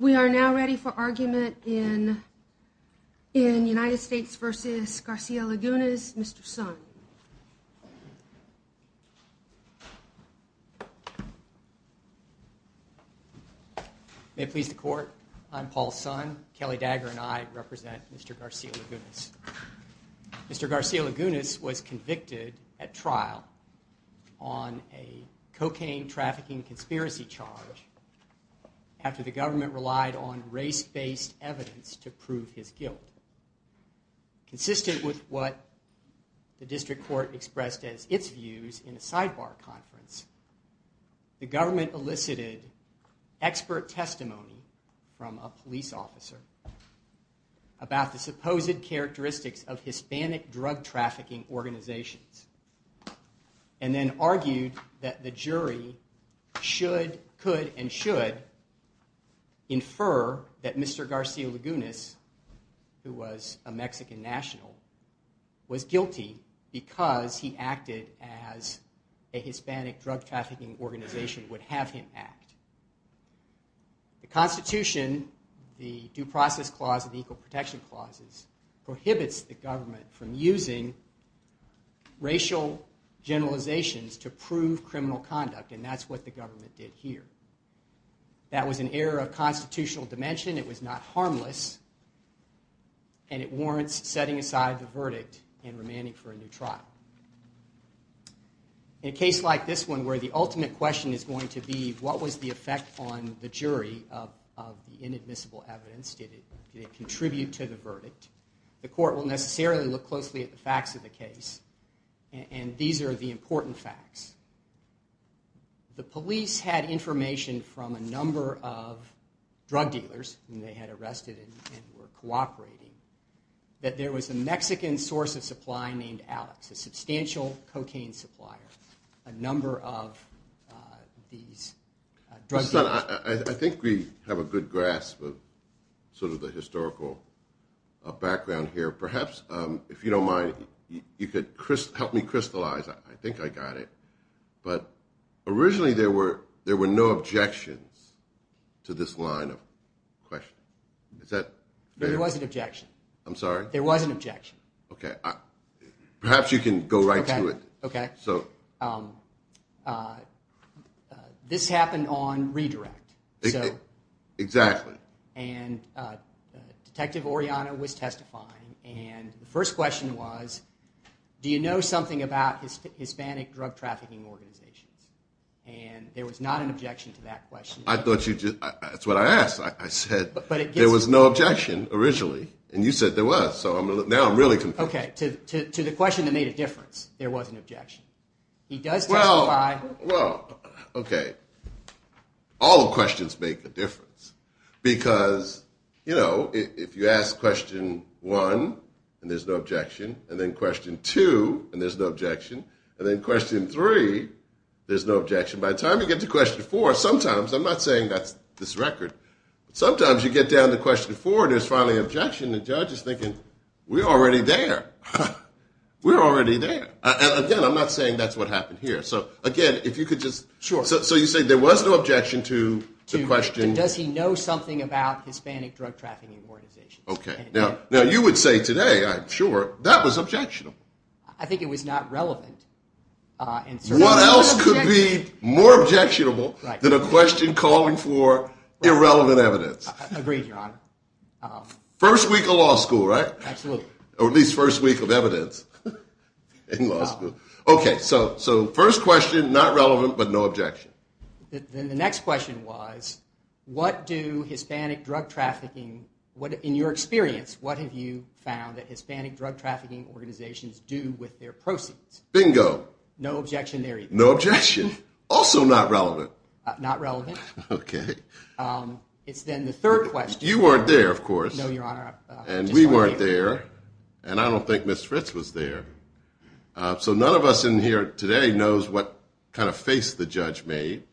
We are now ready for argument in United States v. Garcia-Lagunas. Mr. Sun. May it please the court, I'm Paul Sun. Kelly Dagger and I represent Mr. Garcia-Lagunas. Mr. Garcia-Lagunas was convicted at trial on a cocaine trafficking conspiracy charge after the government relied on race-based evidence to prove his guilt. Consistent with what the district court expressed as its views in a sidebar conference, the government elicited expert testimony from a police officer about the supposed characteristics of Hispanic drug trafficking organizations. And then argued that the jury could and should infer that Mr. Garcia-Lagunas, who was a Mexican national, was guilty because he acted as a Hispanic drug trafficking organization would have him act. The Constitution, the Due Process Clause and the Equal Protection Clauses prohibits the government from using racial generalizations to prove criminal conduct and that's what the government did here. That was an error of constitutional dimension, it was not harmless, and it warrants setting aside the verdict and remaining for a new trial. In a case like this one where the ultimate question is going to be what was the effect on the jury of inadmissible evidence? Did it contribute to the verdict? The court will necessarily look closely at the facts of the case and these are the important facts. The police had information from a number of drug dealers whom they had arrested and were cooperating that there was a Mexican source of supply named Alex, a substantial cocaine supplier. I think we have a good grasp of sort of the historical background here. Perhaps if you don't mind, you could help me crystallize, I think I got it. But originally there were no objections to this line of questioning. There was an objection. I'm sorry? There was an objection. Perhaps you can go right to it. Okay. This happened on redirect. Exactly. And Detective Oriana was testifying and the first question was, do you know something about Hispanic drug trafficking organizations? And there was not an objection to that question. That's what I asked. I said there was no objection originally and you said there was. So now I'm really confused. Okay. To the question that made a difference, there was an objection. He does testify. Well, okay. All questions make a difference because, you know, if you ask question one and there's no objection and then question two and there's no objection and then question three, there's no objection. By the time you get to question four, sometimes, I'm not saying that's this record, sometimes you get down to question four and there's finally an objection and the judge is thinking we're already there. We're already there. Again, I'm not saying that's what happened here. So, again, if you could just. Sure. So you say there was no objection to the question. Does he know something about Hispanic drug trafficking organizations? Okay. Now, you would say today, I'm sure, that was objectionable. I think it was not relevant. What else could be more objectionable than a question calling for irrelevant evidence? Agreed, Your Honor. First week of law school, right? Absolutely. Or at least first week of evidence in law school. Okay. So first question, not relevant, but no objection. Then the next question was, what do Hispanic drug trafficking, in your experience, what have you found that Hispanic drug trafficking organizations do with their proceeds? Bingo. No objection there either. No objection. Also not relevant. Not relevant. Okay. It's then the third question. You weren't there, of course. No, Your Honor. And we weren't there, and I don't think Ms. Fritz was there. So none of us in here today knows what kind of face the judge made,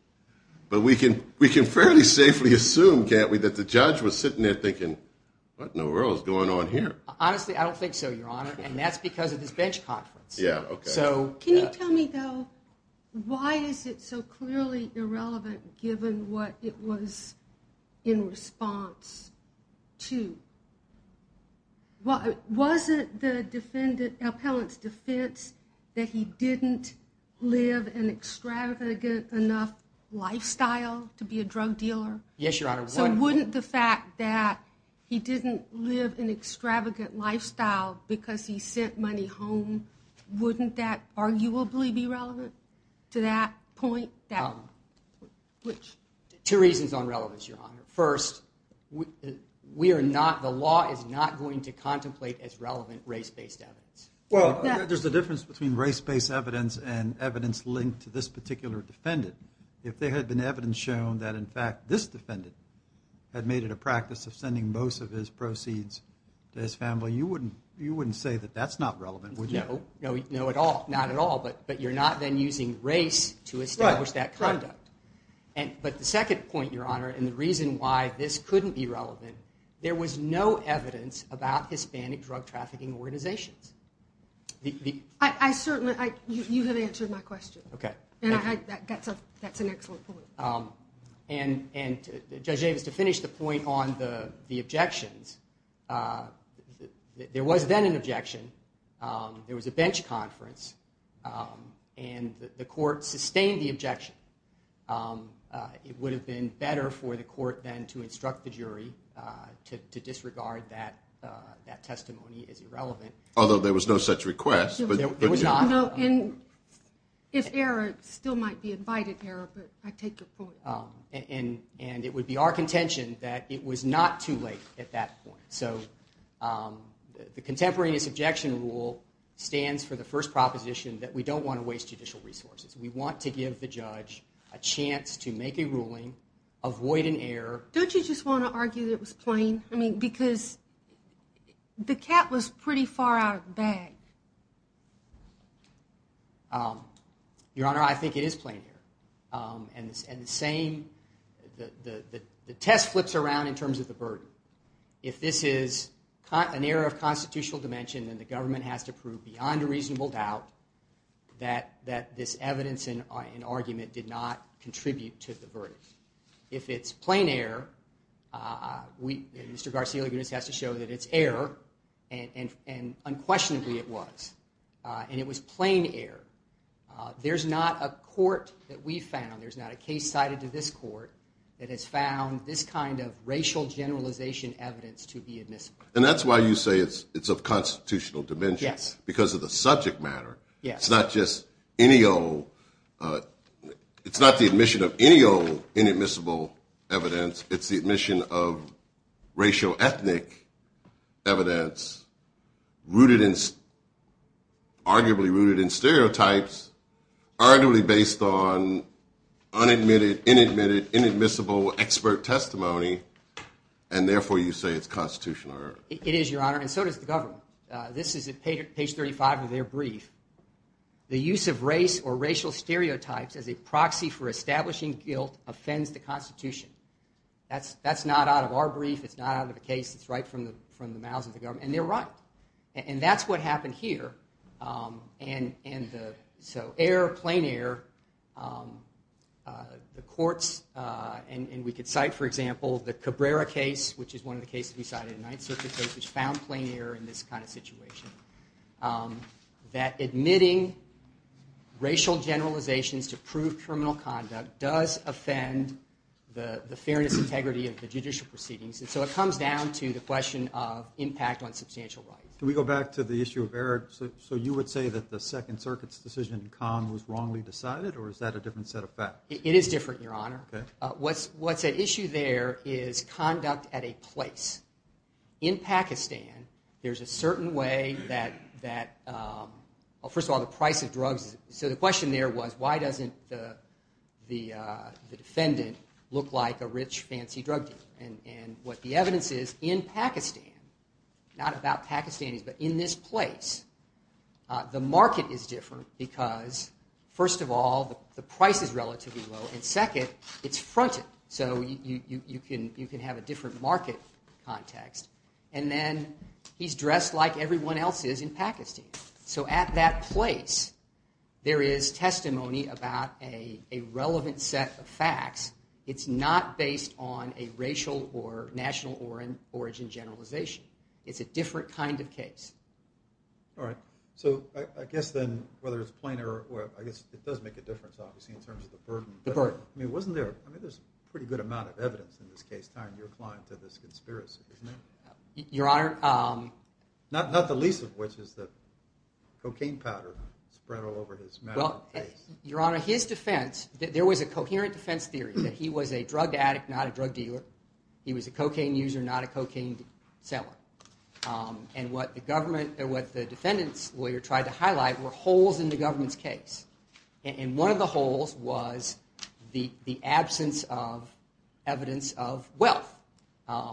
but we can fairly safely assume, can't we, that the judge was sitting there thinking, what in the world is going on here? Honestly, I don't think so, Your Honor, and that's because of this bench conference. Yeah, okay. Can you tell me, though, why is it so clearly irrelevant given what it was in response to? Wasn't the defendant, the appellant's defense that he didn't live an extravagant enough lifestyle to be a drug dealer? Yes, Your Honor. So wouldn't the fact that he didn't live an extravagant lifestyle because he sent money home, wouldn't that arguably be relevant to that point? Two reasons on relevance, Your Honor. First, the law is not going to contemplate as relevant race-based evidence. Well, there's a difference between race-based evidence and evidence linked to this particular defendant. If there had been evidence shown that, in fact, this defendant had made it a practice of sending most of his proceeds to his family, you wouldn't say that that's not relevant, would you? No, not at all, but you're not then using race to establish that conduct. But the second point, Your Honor, and the reason why this couldn't be relevant, there was no evidence about Hispanic drug trafficking organizations. I certainly, you have answered my question. Okay. That's an excellent point. And, Judge Davis, to finish the point on the objections, there was then an objection. There was a bench conference, and the court sustained the objection. It would have been better for the court then to instruct the jury to disregard that testimony as irrelevant. Although there was no such request. There was not. If error, it still might be invited error, but I take your point. And it would be our contention that it was not too late at that point. So the contemporaneous objection rule stands for the first proposition that we don't want to waste judicial resources. We want to give the judge a chance to make a ruling, avoid an error. Don't you just want to argue that it was plain? I mean, because the cat was pretty far out of the bag. Your Honor, I think it is plain error. And the test flips around in terms of the burden. If this is an error of constitutional dimension, then the government has to prove beyond a reasonable doubt that this evidence and argument did not contribute to the verdict. If it's plain error, Mr. Garcia-Levitz has to show that it's error, and unquestionably it was. And it was plain error. There's not a court that we found, there's not a case cited to this court, that has found this kind of racial generalization evidence to be admissible. And that's why you say it's of constitutional dimension. Yes. Because of the subject matter. Yes. It's not the admission of any old inadmissible evidence. It's the admission of racial ethnic evidence, arguably rooted in stereotypes, arguably based on unadmitted, inadmitted, inadmissible expert testimony, and therefore you say it's constitutional error. It is, Your Honor, and so does the government. This is at page 35 of their brief. The use of race or racial stereotypes as a proxy for establishing guilt offends the Constitution. That's not out of our brief, it's not out of the case, it's right from the mouths of the government. And they're right. And that's what happened here. And so error, plain error, the courts, and we could cite, for example, the Cabrera case, which is one of the cases we cited in the Ninth Circuit case, which found plain error in this kind of situation. That admitting racial generalizations to prove criminal conduct does offend the fairness and integrity of the judicial proceedings. And so it comes down to the question of impact on substantial rights. Can we go back to the issue of error? So you would say that the Second Circuit's decision in Cannes was wrongly decided, or is that a different set of facts? It is different, Your Honor. What's at issue there is conduct at a place. In Pakistan, there's a certain way that, well, first of all, the price of drugs. So the question there was, why doesn't the defendant look like a rich, fancy drug dealer? And what the evidence is in Pakistan, not about Pakistanis, but in this place, the market is different because, first of all, the price is relatively low. And second, it's fronted. So you can have a different market context. And then he's dressed like everyone else is in Pakistan. So at that place, there is testimony about a relevant set of facts. It's not based on a racial or national origin generalization. It's a different kind of case. All right. So I guess then, whether it's plain or – I guess it does make a difference, obviously, in terms of the burden. The burden. I mean, wasn't there – I mean, there's a pretty good amount of evidence in this case tying your client to this conspiracy, isn't there? Your Honor – Not the least of which is the cocaine powder spread all over his mouth and face. Your Honor, his defense – there was a coherent defense theory that he was a drug addict, not a drug dealer. He was a cocaine user, not a cocaine seller. And what the government – what the defendant's lawyer tried to highlight were holes in the government's case. And one of the holes was the absence of evidence of wealth. But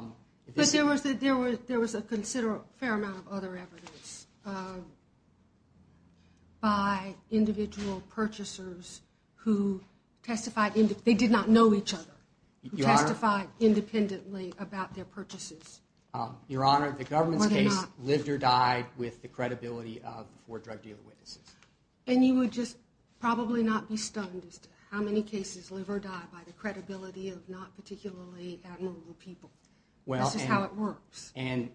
there was a considerable – fair amount of other evidence by individual purchasers who testified – they did not know each other. Your Honor – Who testified independently about their purchases. Your Honor, the government's case lived or died with the credibility of – or drug dealer witnesses. And you would just probably not be stunned as to how many cases live or die by the credibility of not particularly abnormal people. This is how it works. And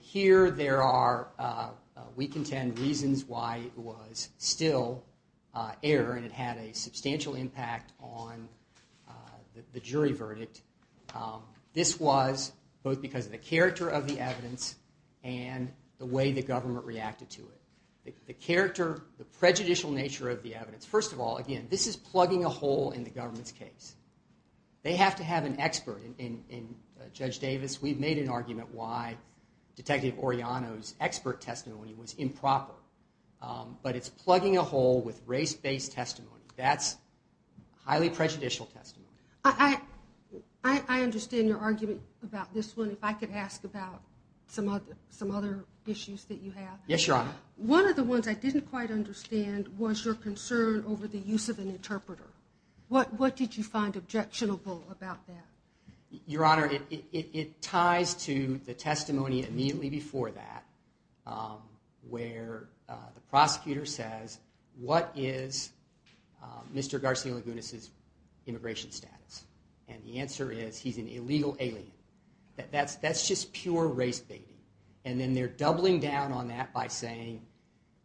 here there are, we contend, reasons why it was still error and it had a substantial impact on the jury verdict. This was both because of the character of the evidence and the way the government reacted to it. The character, the prejudicial nature of the evidence. First of all, again, this is plugging a hole in the government's case. They have to have an expert. And Judge Davis, we've made an argument why Detective Orellano's expert testimony was improper. But it's plugging a hole with race-based testimony. That's highly prejudicial testimony. I understand your argument about this one. If I could ask about some other issues that you have. Yes, Your Honor. One of the ones I didn't quite understand was your concern over the use of an interpreter. What did you find objectionable about that? Your Honor, it ties to the testimony immediately before that where the prosecutor says, what is Mr. Garcia-Lagunas' immigration status? And the answer is he's an illegal alien. That's just pure race-baiting. And then they're doubling down on that by saying,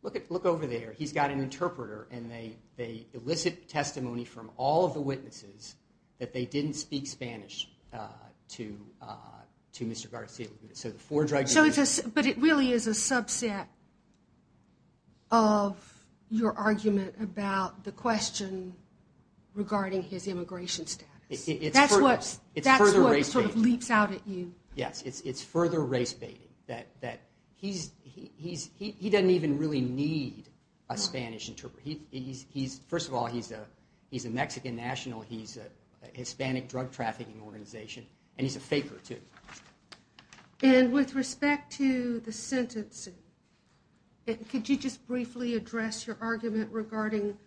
look over there. He's got an interpreter. And they elicit testimony from all of the witnesses that they didn't speak Spanish to Mr. Garcia-Lagunas. But it really is a subset of your argument about the question regarding his immigration status. That's what sort of leaps out at you. Yes, it's further race-baiting. He doesn't even really need a Spanish interpreter. First of all, he's a Mexican national. He's a Hispanic drug-trafficking organization. And he's a faker, too. And with respect to the sentencing, could you just briefly address your argument regarding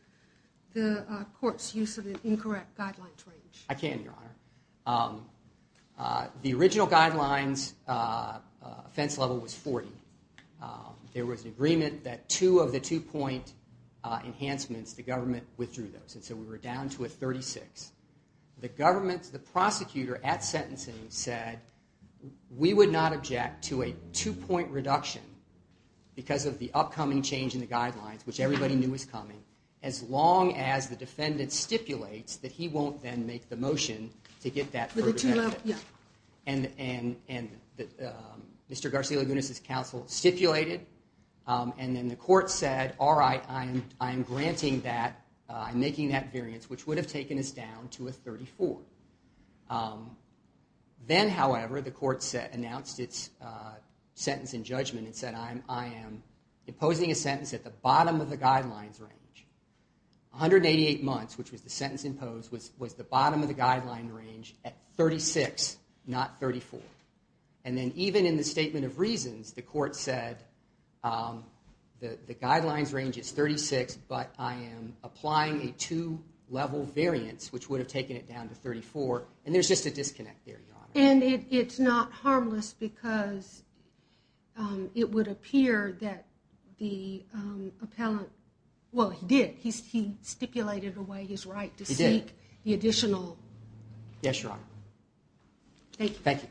the court's use of an incorrect guidelines range? I can, Your Honor. The original guidelines' offense level was 40. There was an agreement that two of the two-point enhancements, the government withdrew those. And so we were down to a 36. The prosecutor at sentencing said, we would not object to a two-point reduction because of the upcoming change in the guidelines, which everybody knew was coming, as long as the defendant stipulates that he won't then make the motion to get that further benefit. And Mr. Garcia-Lagunas' counsel stipulated. And then the court said, all right, I'm granting that. I'm making that variance, which would have taken us down to a 34. Then, however, the court announced its sentence in judgment and said, I am imposing a sentence at the bottom of the guidelines range. 188 months, which was the sentence imposed, was the bottom of the guideline range at 36, not 34. And then even in the statement of reasons, the court said, the guidelines range is 36, but I am applying a two-level variance, which would have taken it down to 34. And there's just a disconnect there, Your Honor. And it's not harmless because it would appear that the appellant, well, he did. He stipulated away his right to seek the additional. Yes, Your Honor. Thank you.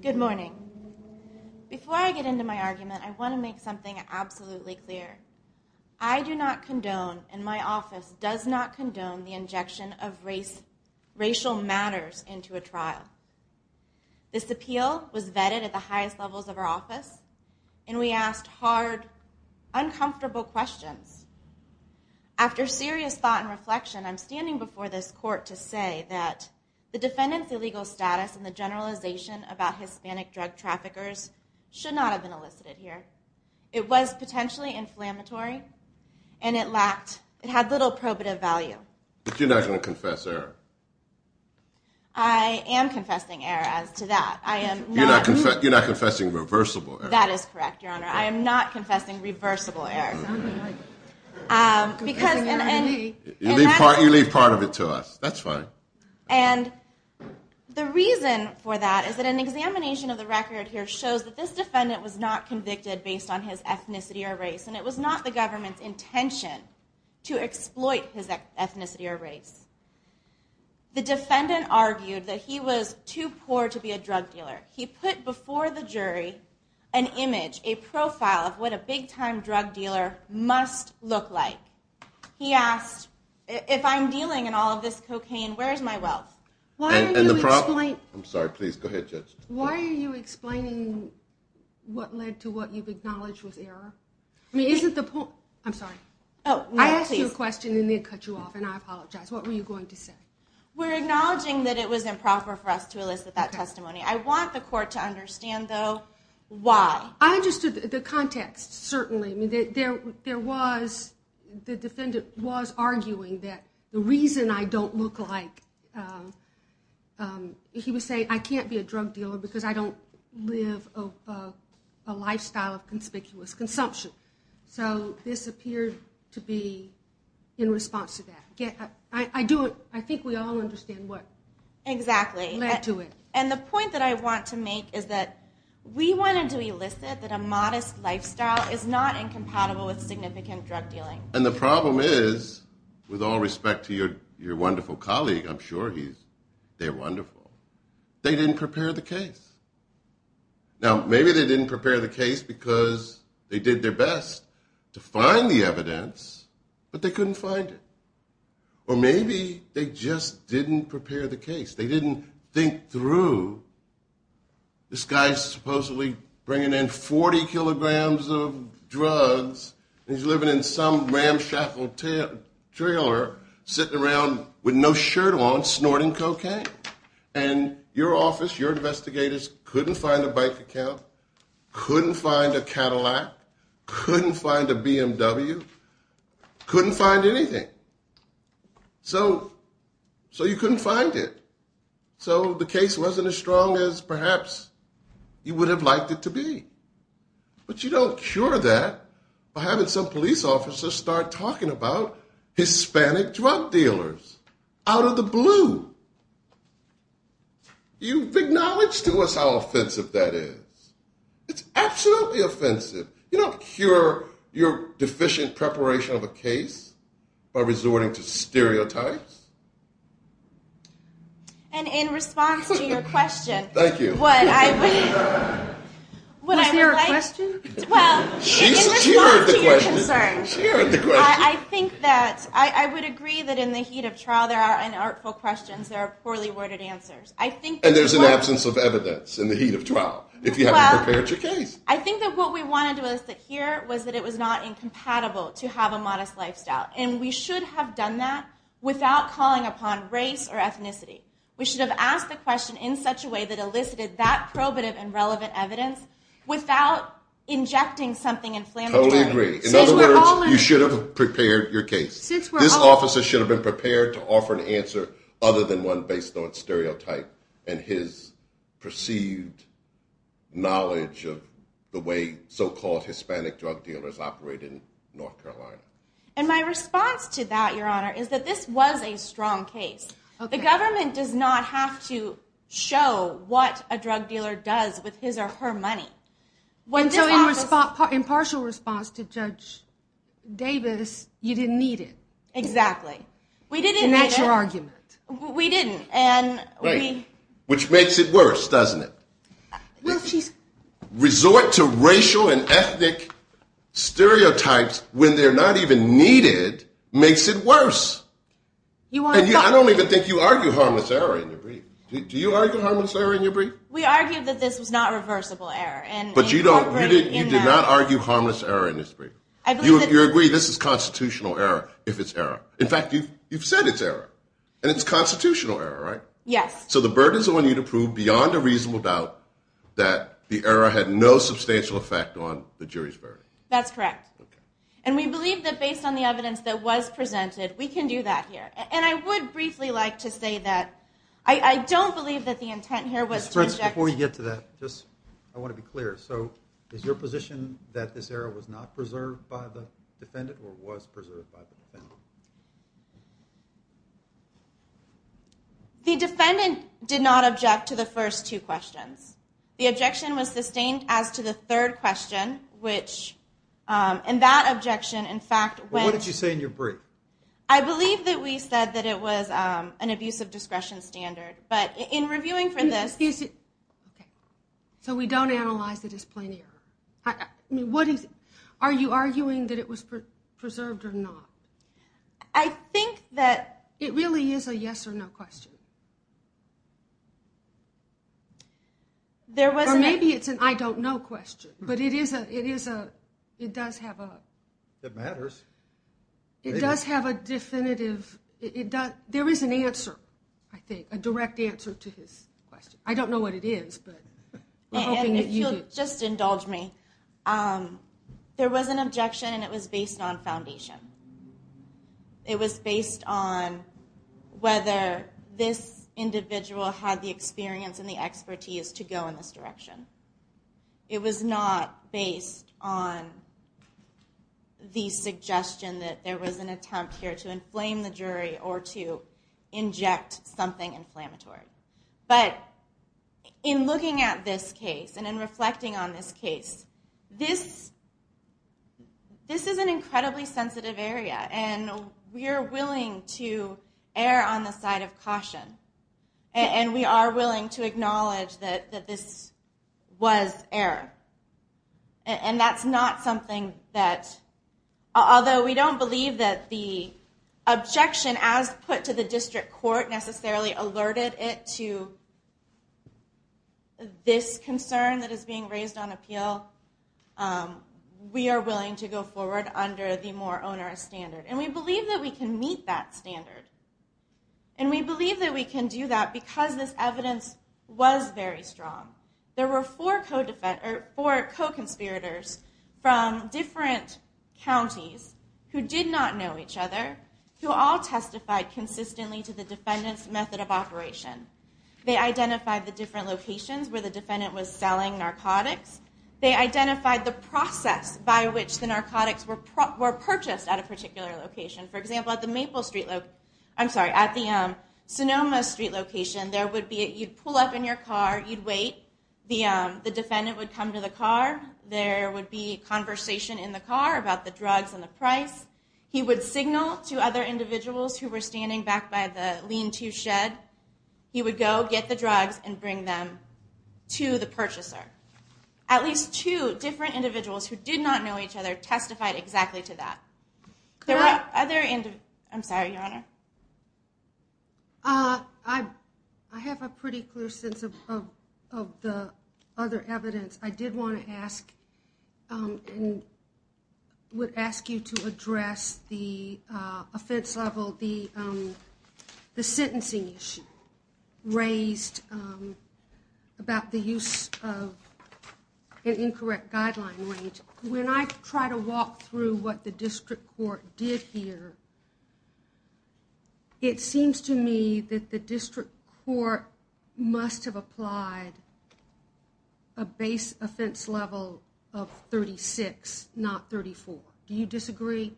Good morning. Before I get into my argument, I want to make something absolutely clear. I do not condone and my office does not condone the injection of racial matters into a trial. This appeal was vetted at the highest levels of our office, and we asked hard, uncomfortable questions. After serious thought and reflection, I'm standing before this court to say that the defendant's illegal status and the generalization about Hispanic drug traffickers should not have been elicited here. It was potentially inflammatory, and it had little probative value. But you're not going to confess error. I am confessing error as to that. You're not confessing reversible error. That is correct, Your Honor. I am not confessing reversible error. You leave part of it to us. That's fine. And the reason for that is that an examination of the record here shows that this defendant was not convicted based on his ethnicity or race, and it was not the government's intention to exploit his ethnicity or race. The defendant argued that he was too poor to be a drug dealer. He put before the jury an image, a profile of what a big-time drug dealer must look like. He asked, if I'm dealing in all of this cocaine, where is my wealth? I'm sorry, please go ahead, Judge. Why are you explaining what led to what you've acknowledged was error? I mean, is it the point? I'm sorry. I asked you a question, and it cut you off, and I apologize. What were you going to say? We're acknowledging that it was improper for us to elicit that testimony. I want the court to understand, though, why. I understood the context, certainly. There was, the defendant was arguing that the reason I don't look like, he was saying I can't be a drug dealer because I don't live a lifestyle of conspicuous consumption. So this appeared to be in response to that. I think we all understand what led to it. And the point that I want to make is that we wanted to elicit that a modest lifestyle is not incompatible with significant drug dealing. And the problem is, with all respect to your wonderful colleague, I'm sure they're wonderful, they didn't prepare the case. Now, maybe they didn't prepare the case because they did their best to find the evidence, but they couldn't find it. Or maybe they just didn't prepare the case. They didn't think through this guy's supposedly bringing in 40 kilograms of drugs and he's living in some ramshackle trailer sitting around with no shirt on snorting cocaine. And your office, your investigators couldn't find a bike account, couldn't find a Cadillac, couldn't find a BMW, couldn't find anything. So you couldn't find it. So the case wasn't as strong as perhaps you would have liked it to be. But you don't cure that by having some police officer start talking about Hispanic drug dealers out of the blue. You've acknowledged to us how offensive that is. It's absolutely offensive. You don't cure your deficient preparation of a case by resorting to stereotypes. And in response to your question... Thank you. Was there a question? Well, in response to your concern, I think that I would agree that in the heat of trial there are unartful questions, there are poorly worded answers. And there's an absence of evidence in the heat of trial if you haven't prepared your case. I think that what we wanted to elicit here was that it was not incompatible to have a modest lifestyle. And we should have done that without calling upon race or ethnicity. We should have asked the question in such a way that elicited that probative and relevant evidence without injecting something inflammatory. Totally agree. In other words, you should have prepared your case. This officer should have been prepared to offer an answer other than one based on stereotype and his perceived knowledge of the way so-called Hispanic drug dealers operate in North Carolina. And my response to that, Your Honor, is that this was a strong case. The government does not have to show what a drug dealer does with his or her money. In partial response to Judge Davis, you didn't need it. Exactly. And that's your argument. We didn't. Which makes it worse, doesn't it? Resort to racial and ethnic stereotypes when they're not even needed makes it worse. I don't even think you argue harmless error in your brief. Do you argue harmless error in your brief? We argue that this was not reversible error. But you do not argue harmless error in this brief. You agree this is constitutional error if it's error. In fact, you've said it's error. And it's constitutional error, right? Yes. So the burden is on you to prove beyond a reasonable doubt that the error had no substantial effect on the jury's verdict. That's correct. And we believe that based on the evidence that was presented, we can do that here. And I would briefly like to say that I don't believe that the intent here was to object. So is your position that this error was not preserved by the defendant or was preserved by the defendant? The defendant did not object to the first two questions. The objection was sustained as to the third question, which in that objection, in fact, when- What did you say in your brief? I believe that we said that it was an abuse of discretion standard. But in reviewing for this- So we don't analyze it as plain error. Are you arguing that it was preserved or not? I think that- It really is a yes or no question. Or maybe it's an I don't know question. But it is a- it does have a- It matters. It does have a definitive- There is an answer, I think, a direct answer to his question. I don't know what it is, but we're hoping that you- And if you'll just indulge me, there was an objection and it was based on foundation. It was based on whether this individual had the experience and the expertise to go in this direction. It was not based on the suggestion that there was an attempt here to inflame the jury or to inject something inflammatory. But in looking at this case and in reflecting on this case, this is an incredibly sensitive area. And we are willing to err on the side of caution. And we are willing to acknowledge that this was error. And that's not something that- Although we don't believe that the objection as put to the district court necessarily alerted it to this concern that is being raised on appeal. We are willing to go forward under the more onerous standard. And we believe that we can meet that standard. And we believe that we can do that because this evidence was very strong. There were four co-conspirators from different counties who did not know each other who all testified consistently to the defendant's method of operation. They identified the different locations where the defendant was selling narcotics. They identified the process by which the narcotics were purchased at a particular location. For example, at the Sonoma Street location, you'd pull up in your car, you'd wait. The defendant would come to the car. There would be conversation in the car about the drugs and the price. He would signal to other individuals who were standing back by the lean-to shed. He would go get the drugs and bring them to the purchaser. At least two different individuals who did not know each other testified exactly to that. There were other individuals. I'm sorry, Your Honor. I have a pretty clear sense of the other evidence. I did want to ask and would ask you to address the offense level, the sentencing issue raised about the use of an incorrect guideline rate. When I try to walk through what the district court did here, it seems to me that the district court must have applied a base offense level of 36, not 34. Do you disagree?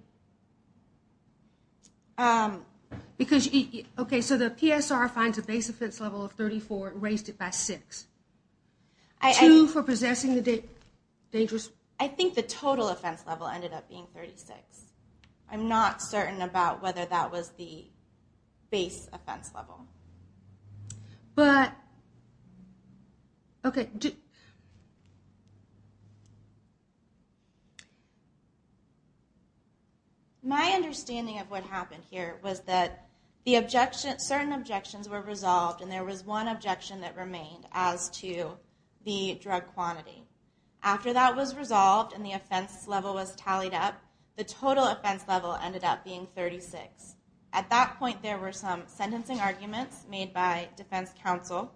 Okay, so the PSR finds a base offense level of 34 and raised it by 6. Two for possessing the dangerous? I think the total offense level ended up being 36. I'm not certain about whether that was the base offense level. My understanding of what happened here was that certain objections were resolved and there was one objection that remained as to the drug quantity. After that was resolved and the offense level was tallied up, the total offense level ended up being 36. At that point, there were some sentencing arguments made by defense counsel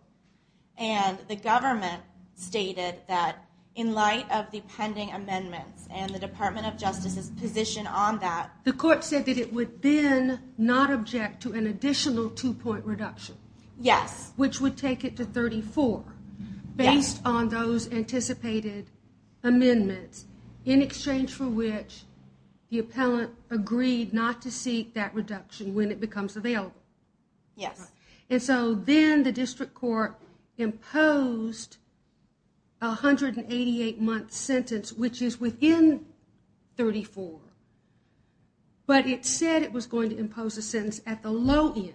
and the government stated that in light of the pending amendments and the Department of Justice's position on that... The court said that it would then not object to an additional two-point reduction. Yes. Which would take it to 34 based on those anticipated amendments in exchange for which the appellant agreed not to seek that reduction when it becomes available. Yes. And so then the district court imposed a 188-month sentence which is within 34, but it said it was going to impose a sentence at the low end.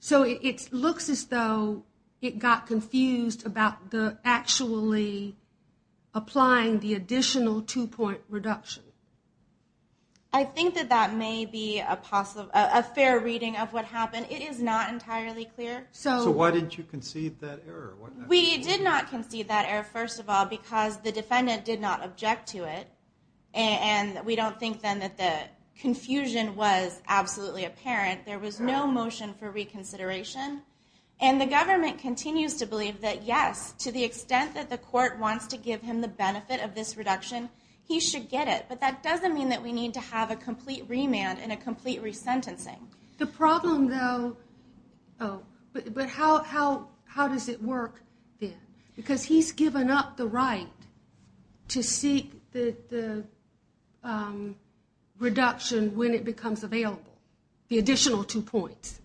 So it looks as though it got confused about actually applying the additional two-point reduction. I think that that may be a fair reading of what happened. It is not entirely clear. So why didn't you concede that error? We did not concede that error, first of all, because the defendant did not object to it. And we don't think then that the confusion was absolutely apparent. There was no motion for reconsideration. And the government continues to believe that yes, to the extent that the court wants to give him the benefit of this reduction, he should get it. But that doesn't mean that we need to have a complete remand and a complete resentencing. The problem, though, but how does it work then? Because he's given up the right to seek the reduction when it becomes available, the additional two points.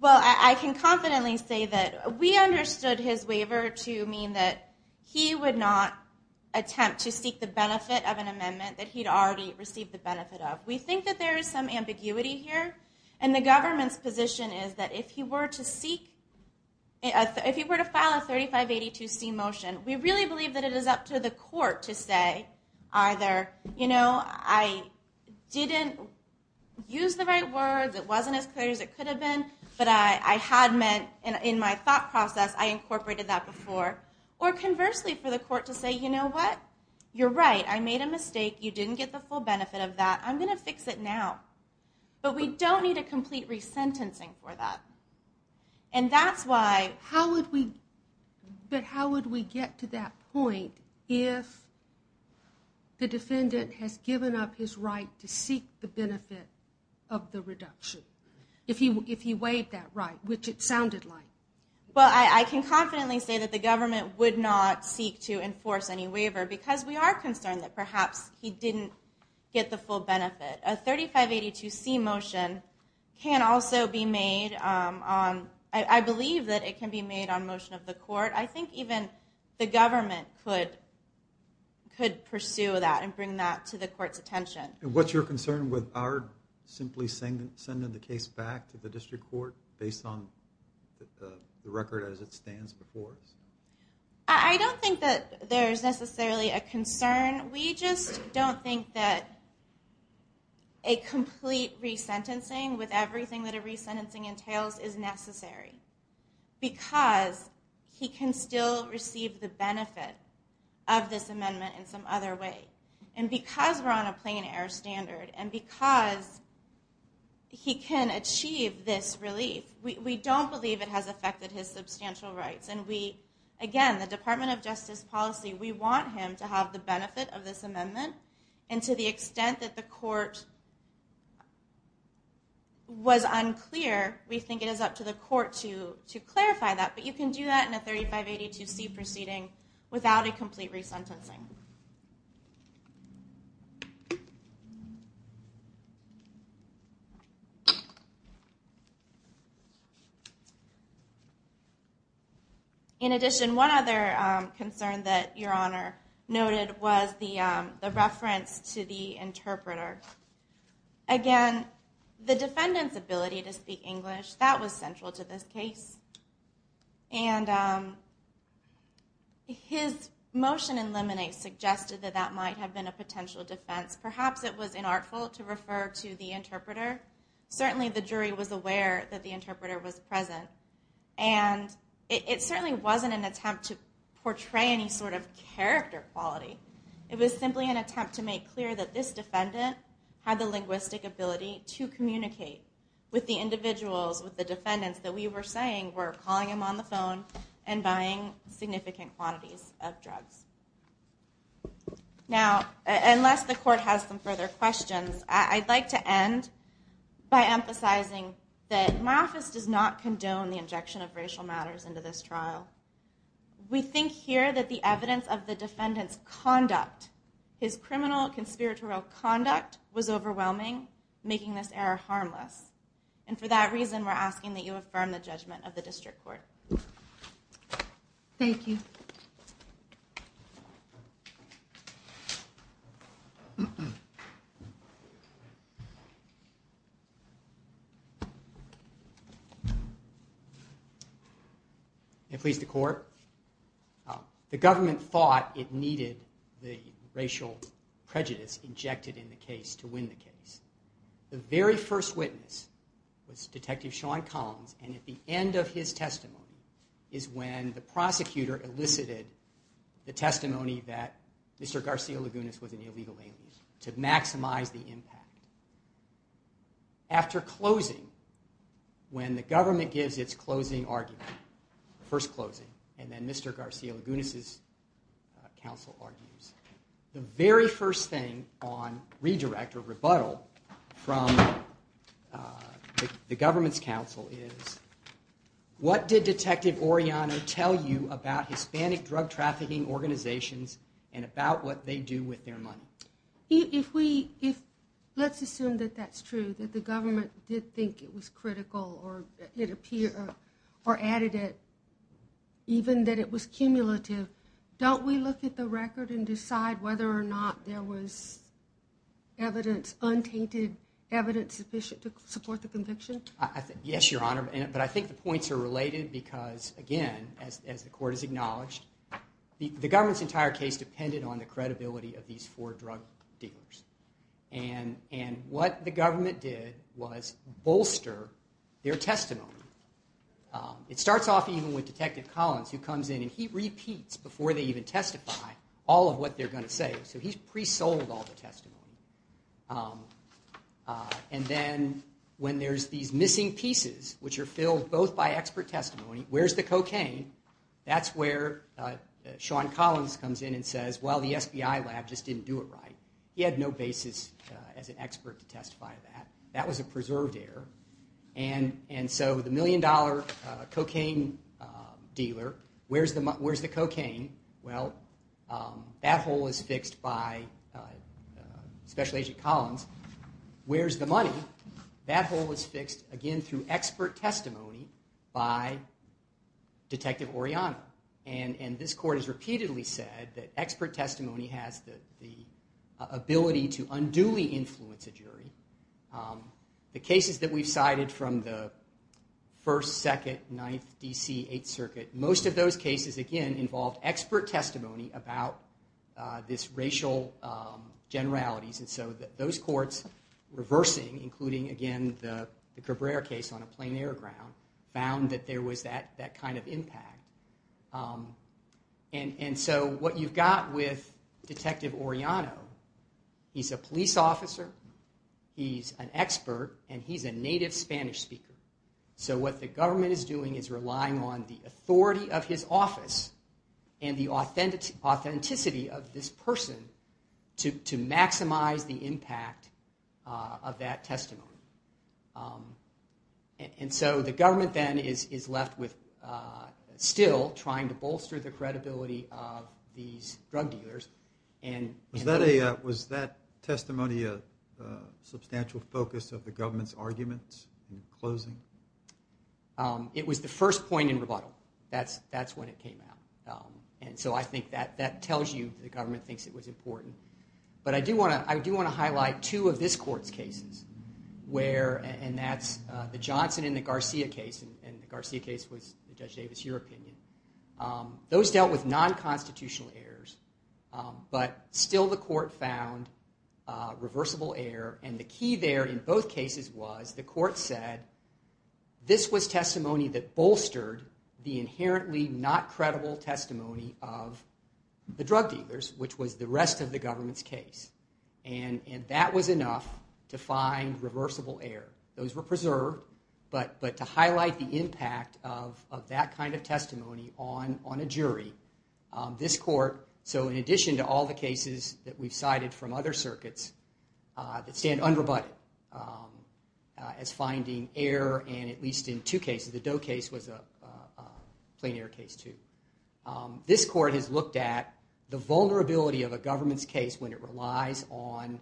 Well, I can confidently say that we understood his waiver to mean that he would not attempt to seek the benefit of an amendment that he'd already received the benefit of. We think that there is some ambiguity here. And the government's position is that if he were to seek, if he were to file a 3582C motion, we really believe that it is up to the court to say either, you know, I didn't use the right words, it wasn't as clear as it could have been, but I had meant in my thought process, I incorporated that before. Or conversely for the court to say, you know what, you're right, I made a mistake, you didn't get the full benefit of that. I'm going to fix it now. But we don't need a complete resentencing for that. And that's why... But how would we get to that point if the defendant has given up his right to seek the benefit of the reduction? If he waived that right, which it sounded like. Well, I can confidently say that the government would not seek to enforce any waiver because we are concerned that perhaps he didn't get the full benefit. A 3582C motion can also be made on... I believe that it can be made on motion of the court. I think even the government could pursue that and bring that to the court's attention. And what's your concern with our simply sending the case back to the district court based on the record as it stands before us? I don't think that there's necessarily a concern. We just don't think that a complete resentencing with everything that a resentencing entails is necessary. Because he can still receive the benefit of this amendment in some other way. And because we're on a plain air standard. And because he can achieve this relief. We don't believe it has affected his substantial rights. And again, the Department of Justice policy, we want him to have the benefit of this amendment. And to the extent that the court was unclear, we think it is up to the court to clarify that. But you can do that in a 3582C proceeding without a complete resentencing. In addition, one other concern that Your Honor noted was the reference to the interpreter. Again, the defendant's ability to speak English, that was central to this case. And his motion in Lemonade suggested that that might have been a potential defense. Perhaps it was inartful to refer to the interpreter. Certainly the jury was aware that the interpreter was present. And it certainly wasn't an attempt to portray any sort of character quality. It was simply an attempt to make clear that this defendant had the linguistic ability to communicate with the individuals, with the defendants that we were saying were calling him on the phone and buying significant quantities of drugs. Now, unless the court has some further questions, I'd like to end by emphasizing that my office does not condone the injection of racial matters into this trial. We think here that the evidence of the defendant's conduct, his criminal, conspiratorial conduct was overwhelming, making this error harmless. And for that reason, we're asking that you affirm the judgment of the district court. Thank you. Thank you, Mr. Court. The government thought it needed the racial prejudice injected in the case to win the case. The very first witness was Detective Sean Collins, and at the end of his testimony is when the prosecutor elicited the testimony that Mr. Garcia-Lagunas was an illegal alien to maximize the impact. After closing, when the government gives its closing argument, first closing, and then Mr. Garcia-Lagunas' counsel argues, the very first thing on redirect or rebuttal from the government's counsel is, what did Detective Orellano tell you about Hispanic drug trafficking organizations and about what they do with their money? Let's assume that that's true, that the government did think it was critical or added it, even that it was cumulative. Don't we look at the record and decide whether or not there was evidence, untainted evidence sufficient to support the conviction? Yes, Your Honor, but I think the points are related because, again, as the court has acknowledged, the government's entire case depended on the credibility of these four drug dealers. And what the government did was bolster their testimony. It starts off even with Detective Collins, who comes in and he repeats before they even testify all of what they're going to say, so he's pre-sold all the testimony. And then when there's these missing pieces, which are filled both by expert testimony, where's the cocaine, that's where Sean Collins comes in and says, well, the SBI lab just didn't do it right. He had no basis as an expert to testify to that. That was a preserved error. And so the million-dollar cocaine dealer, where's the cocaine? Well, that hole is fixed by Special Agent Collins. Where's the money? That hole is fixed, again, through expert testimony by Detective Oriana. And this court has repeatedly said that expert testimony has the ability to unduly influence a jury. The cases that we've cited from the First, Second, Ninth, D.C., Eighth Circuit, most of those cases, again, involved expert testimony about these racial generalities. And so those courts reversing, including, again, the Cabrera case on a plain-air ground, found that there was that kind of impact. And so what you've got with Detective Oriana, he's a police officer, he's an expert, and he's a native Spanish speaker. So what the government is doing is relying on the authority of his office and the authenticity of this person to maximize the impact of that testimony. And so the government then is left with still trying to bolster the credibility of these drug dealers. Was that testimony a substantial focus of the government's arguments in closing? Well, that's when it came out. And so I think that tells you the government thinks it was important. But I do want to highlight two of this court's cases, and that's the Johnson and the Garcia case, and the Garcia case was, Judge Davis, your opinion. Those dealt with non-constitutional errors, but still the court found reversible error. And the key there in both cases was the court said, this was testimony that bolstered the inherently not-credible testimony of the drug dealers, which was the rest of the government's case. And that was enough to find reversible error. Those were preserved, but to highlight the impact of that kind of testimony on a jury, this court, so in addition to all the cases that we've cited from other circuits that stand unrebutted as finding error, and at least in two cases, the Doe case was a plain error case too. This court has looked at the vulnerability of a government's case when it relies on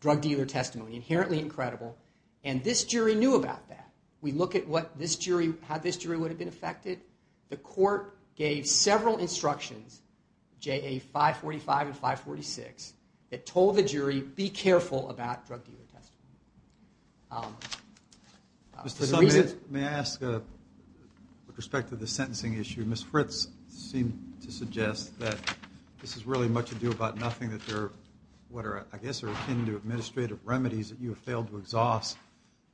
drug dealer testimony, inherently incredible. And this jury knew about that. We look at how this jury would have been affected. The court gave several instructions, JA 545 and 546, that told the jury, be careful about drug dealer testimony. May I ask, with respect to the sentencing issue, Ms. Fritz seemed to suggest that this is really much ado about nothing, that there are what I guess are akin to administrative remedies that you have failed to exhaust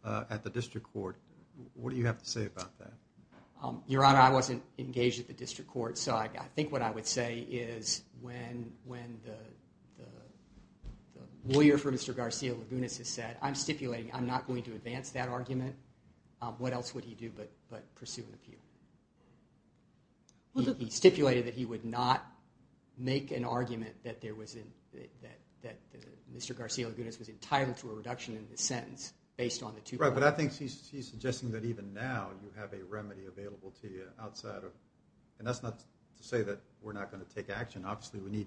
at the district court. What do you have to say about that? Your Honor, I wasn't engaged at the district court, so I think what I would say is when the lawyer for Mr. Garcia-Lagunas has said, I'm stipulating I'm not going to advance that argument, what else would he do but pursue an appeal? He stipulated that he would not make an argument that Mr. Garcia-Lagunas was entitled to a reduction in his sentence based on the two points. Right, but I think he's suggesting that even now you have a remedy available to you outside of, and that's not to say that we're not going to take action. Obviously, we need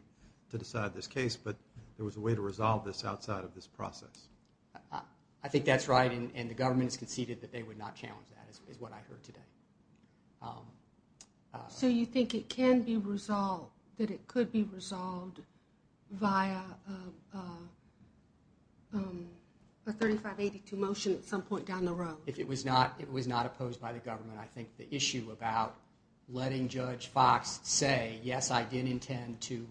to decide this case, but there was a way to resolve this outside of this process. I think that's right, and the government has conceded that they would not challenge that is what I heard today. So you think it can be resolved, that it could be resolved via a 3582 motion at some point down the road? If it was not opposed by the government, I think the issue about letting Judge Fox say, yes, I did intend to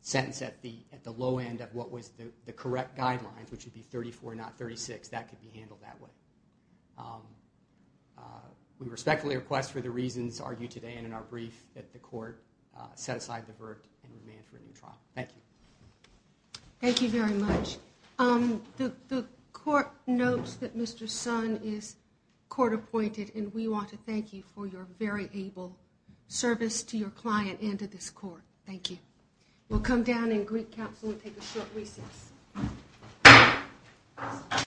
sentence at the low end of what was the correct guidelines, which would be 34 and not 36, that could be handled that way. We respectfully request for the reasons argued today and in our brief that the court set aside the verdict and demand for a new trial. Thank you. Thank you very much. The court notes that Mr. Son is court appointed, and we want to thank you for your very able service to your client and to this court. Thank you. We'll come down and greet counsel and take a short recess.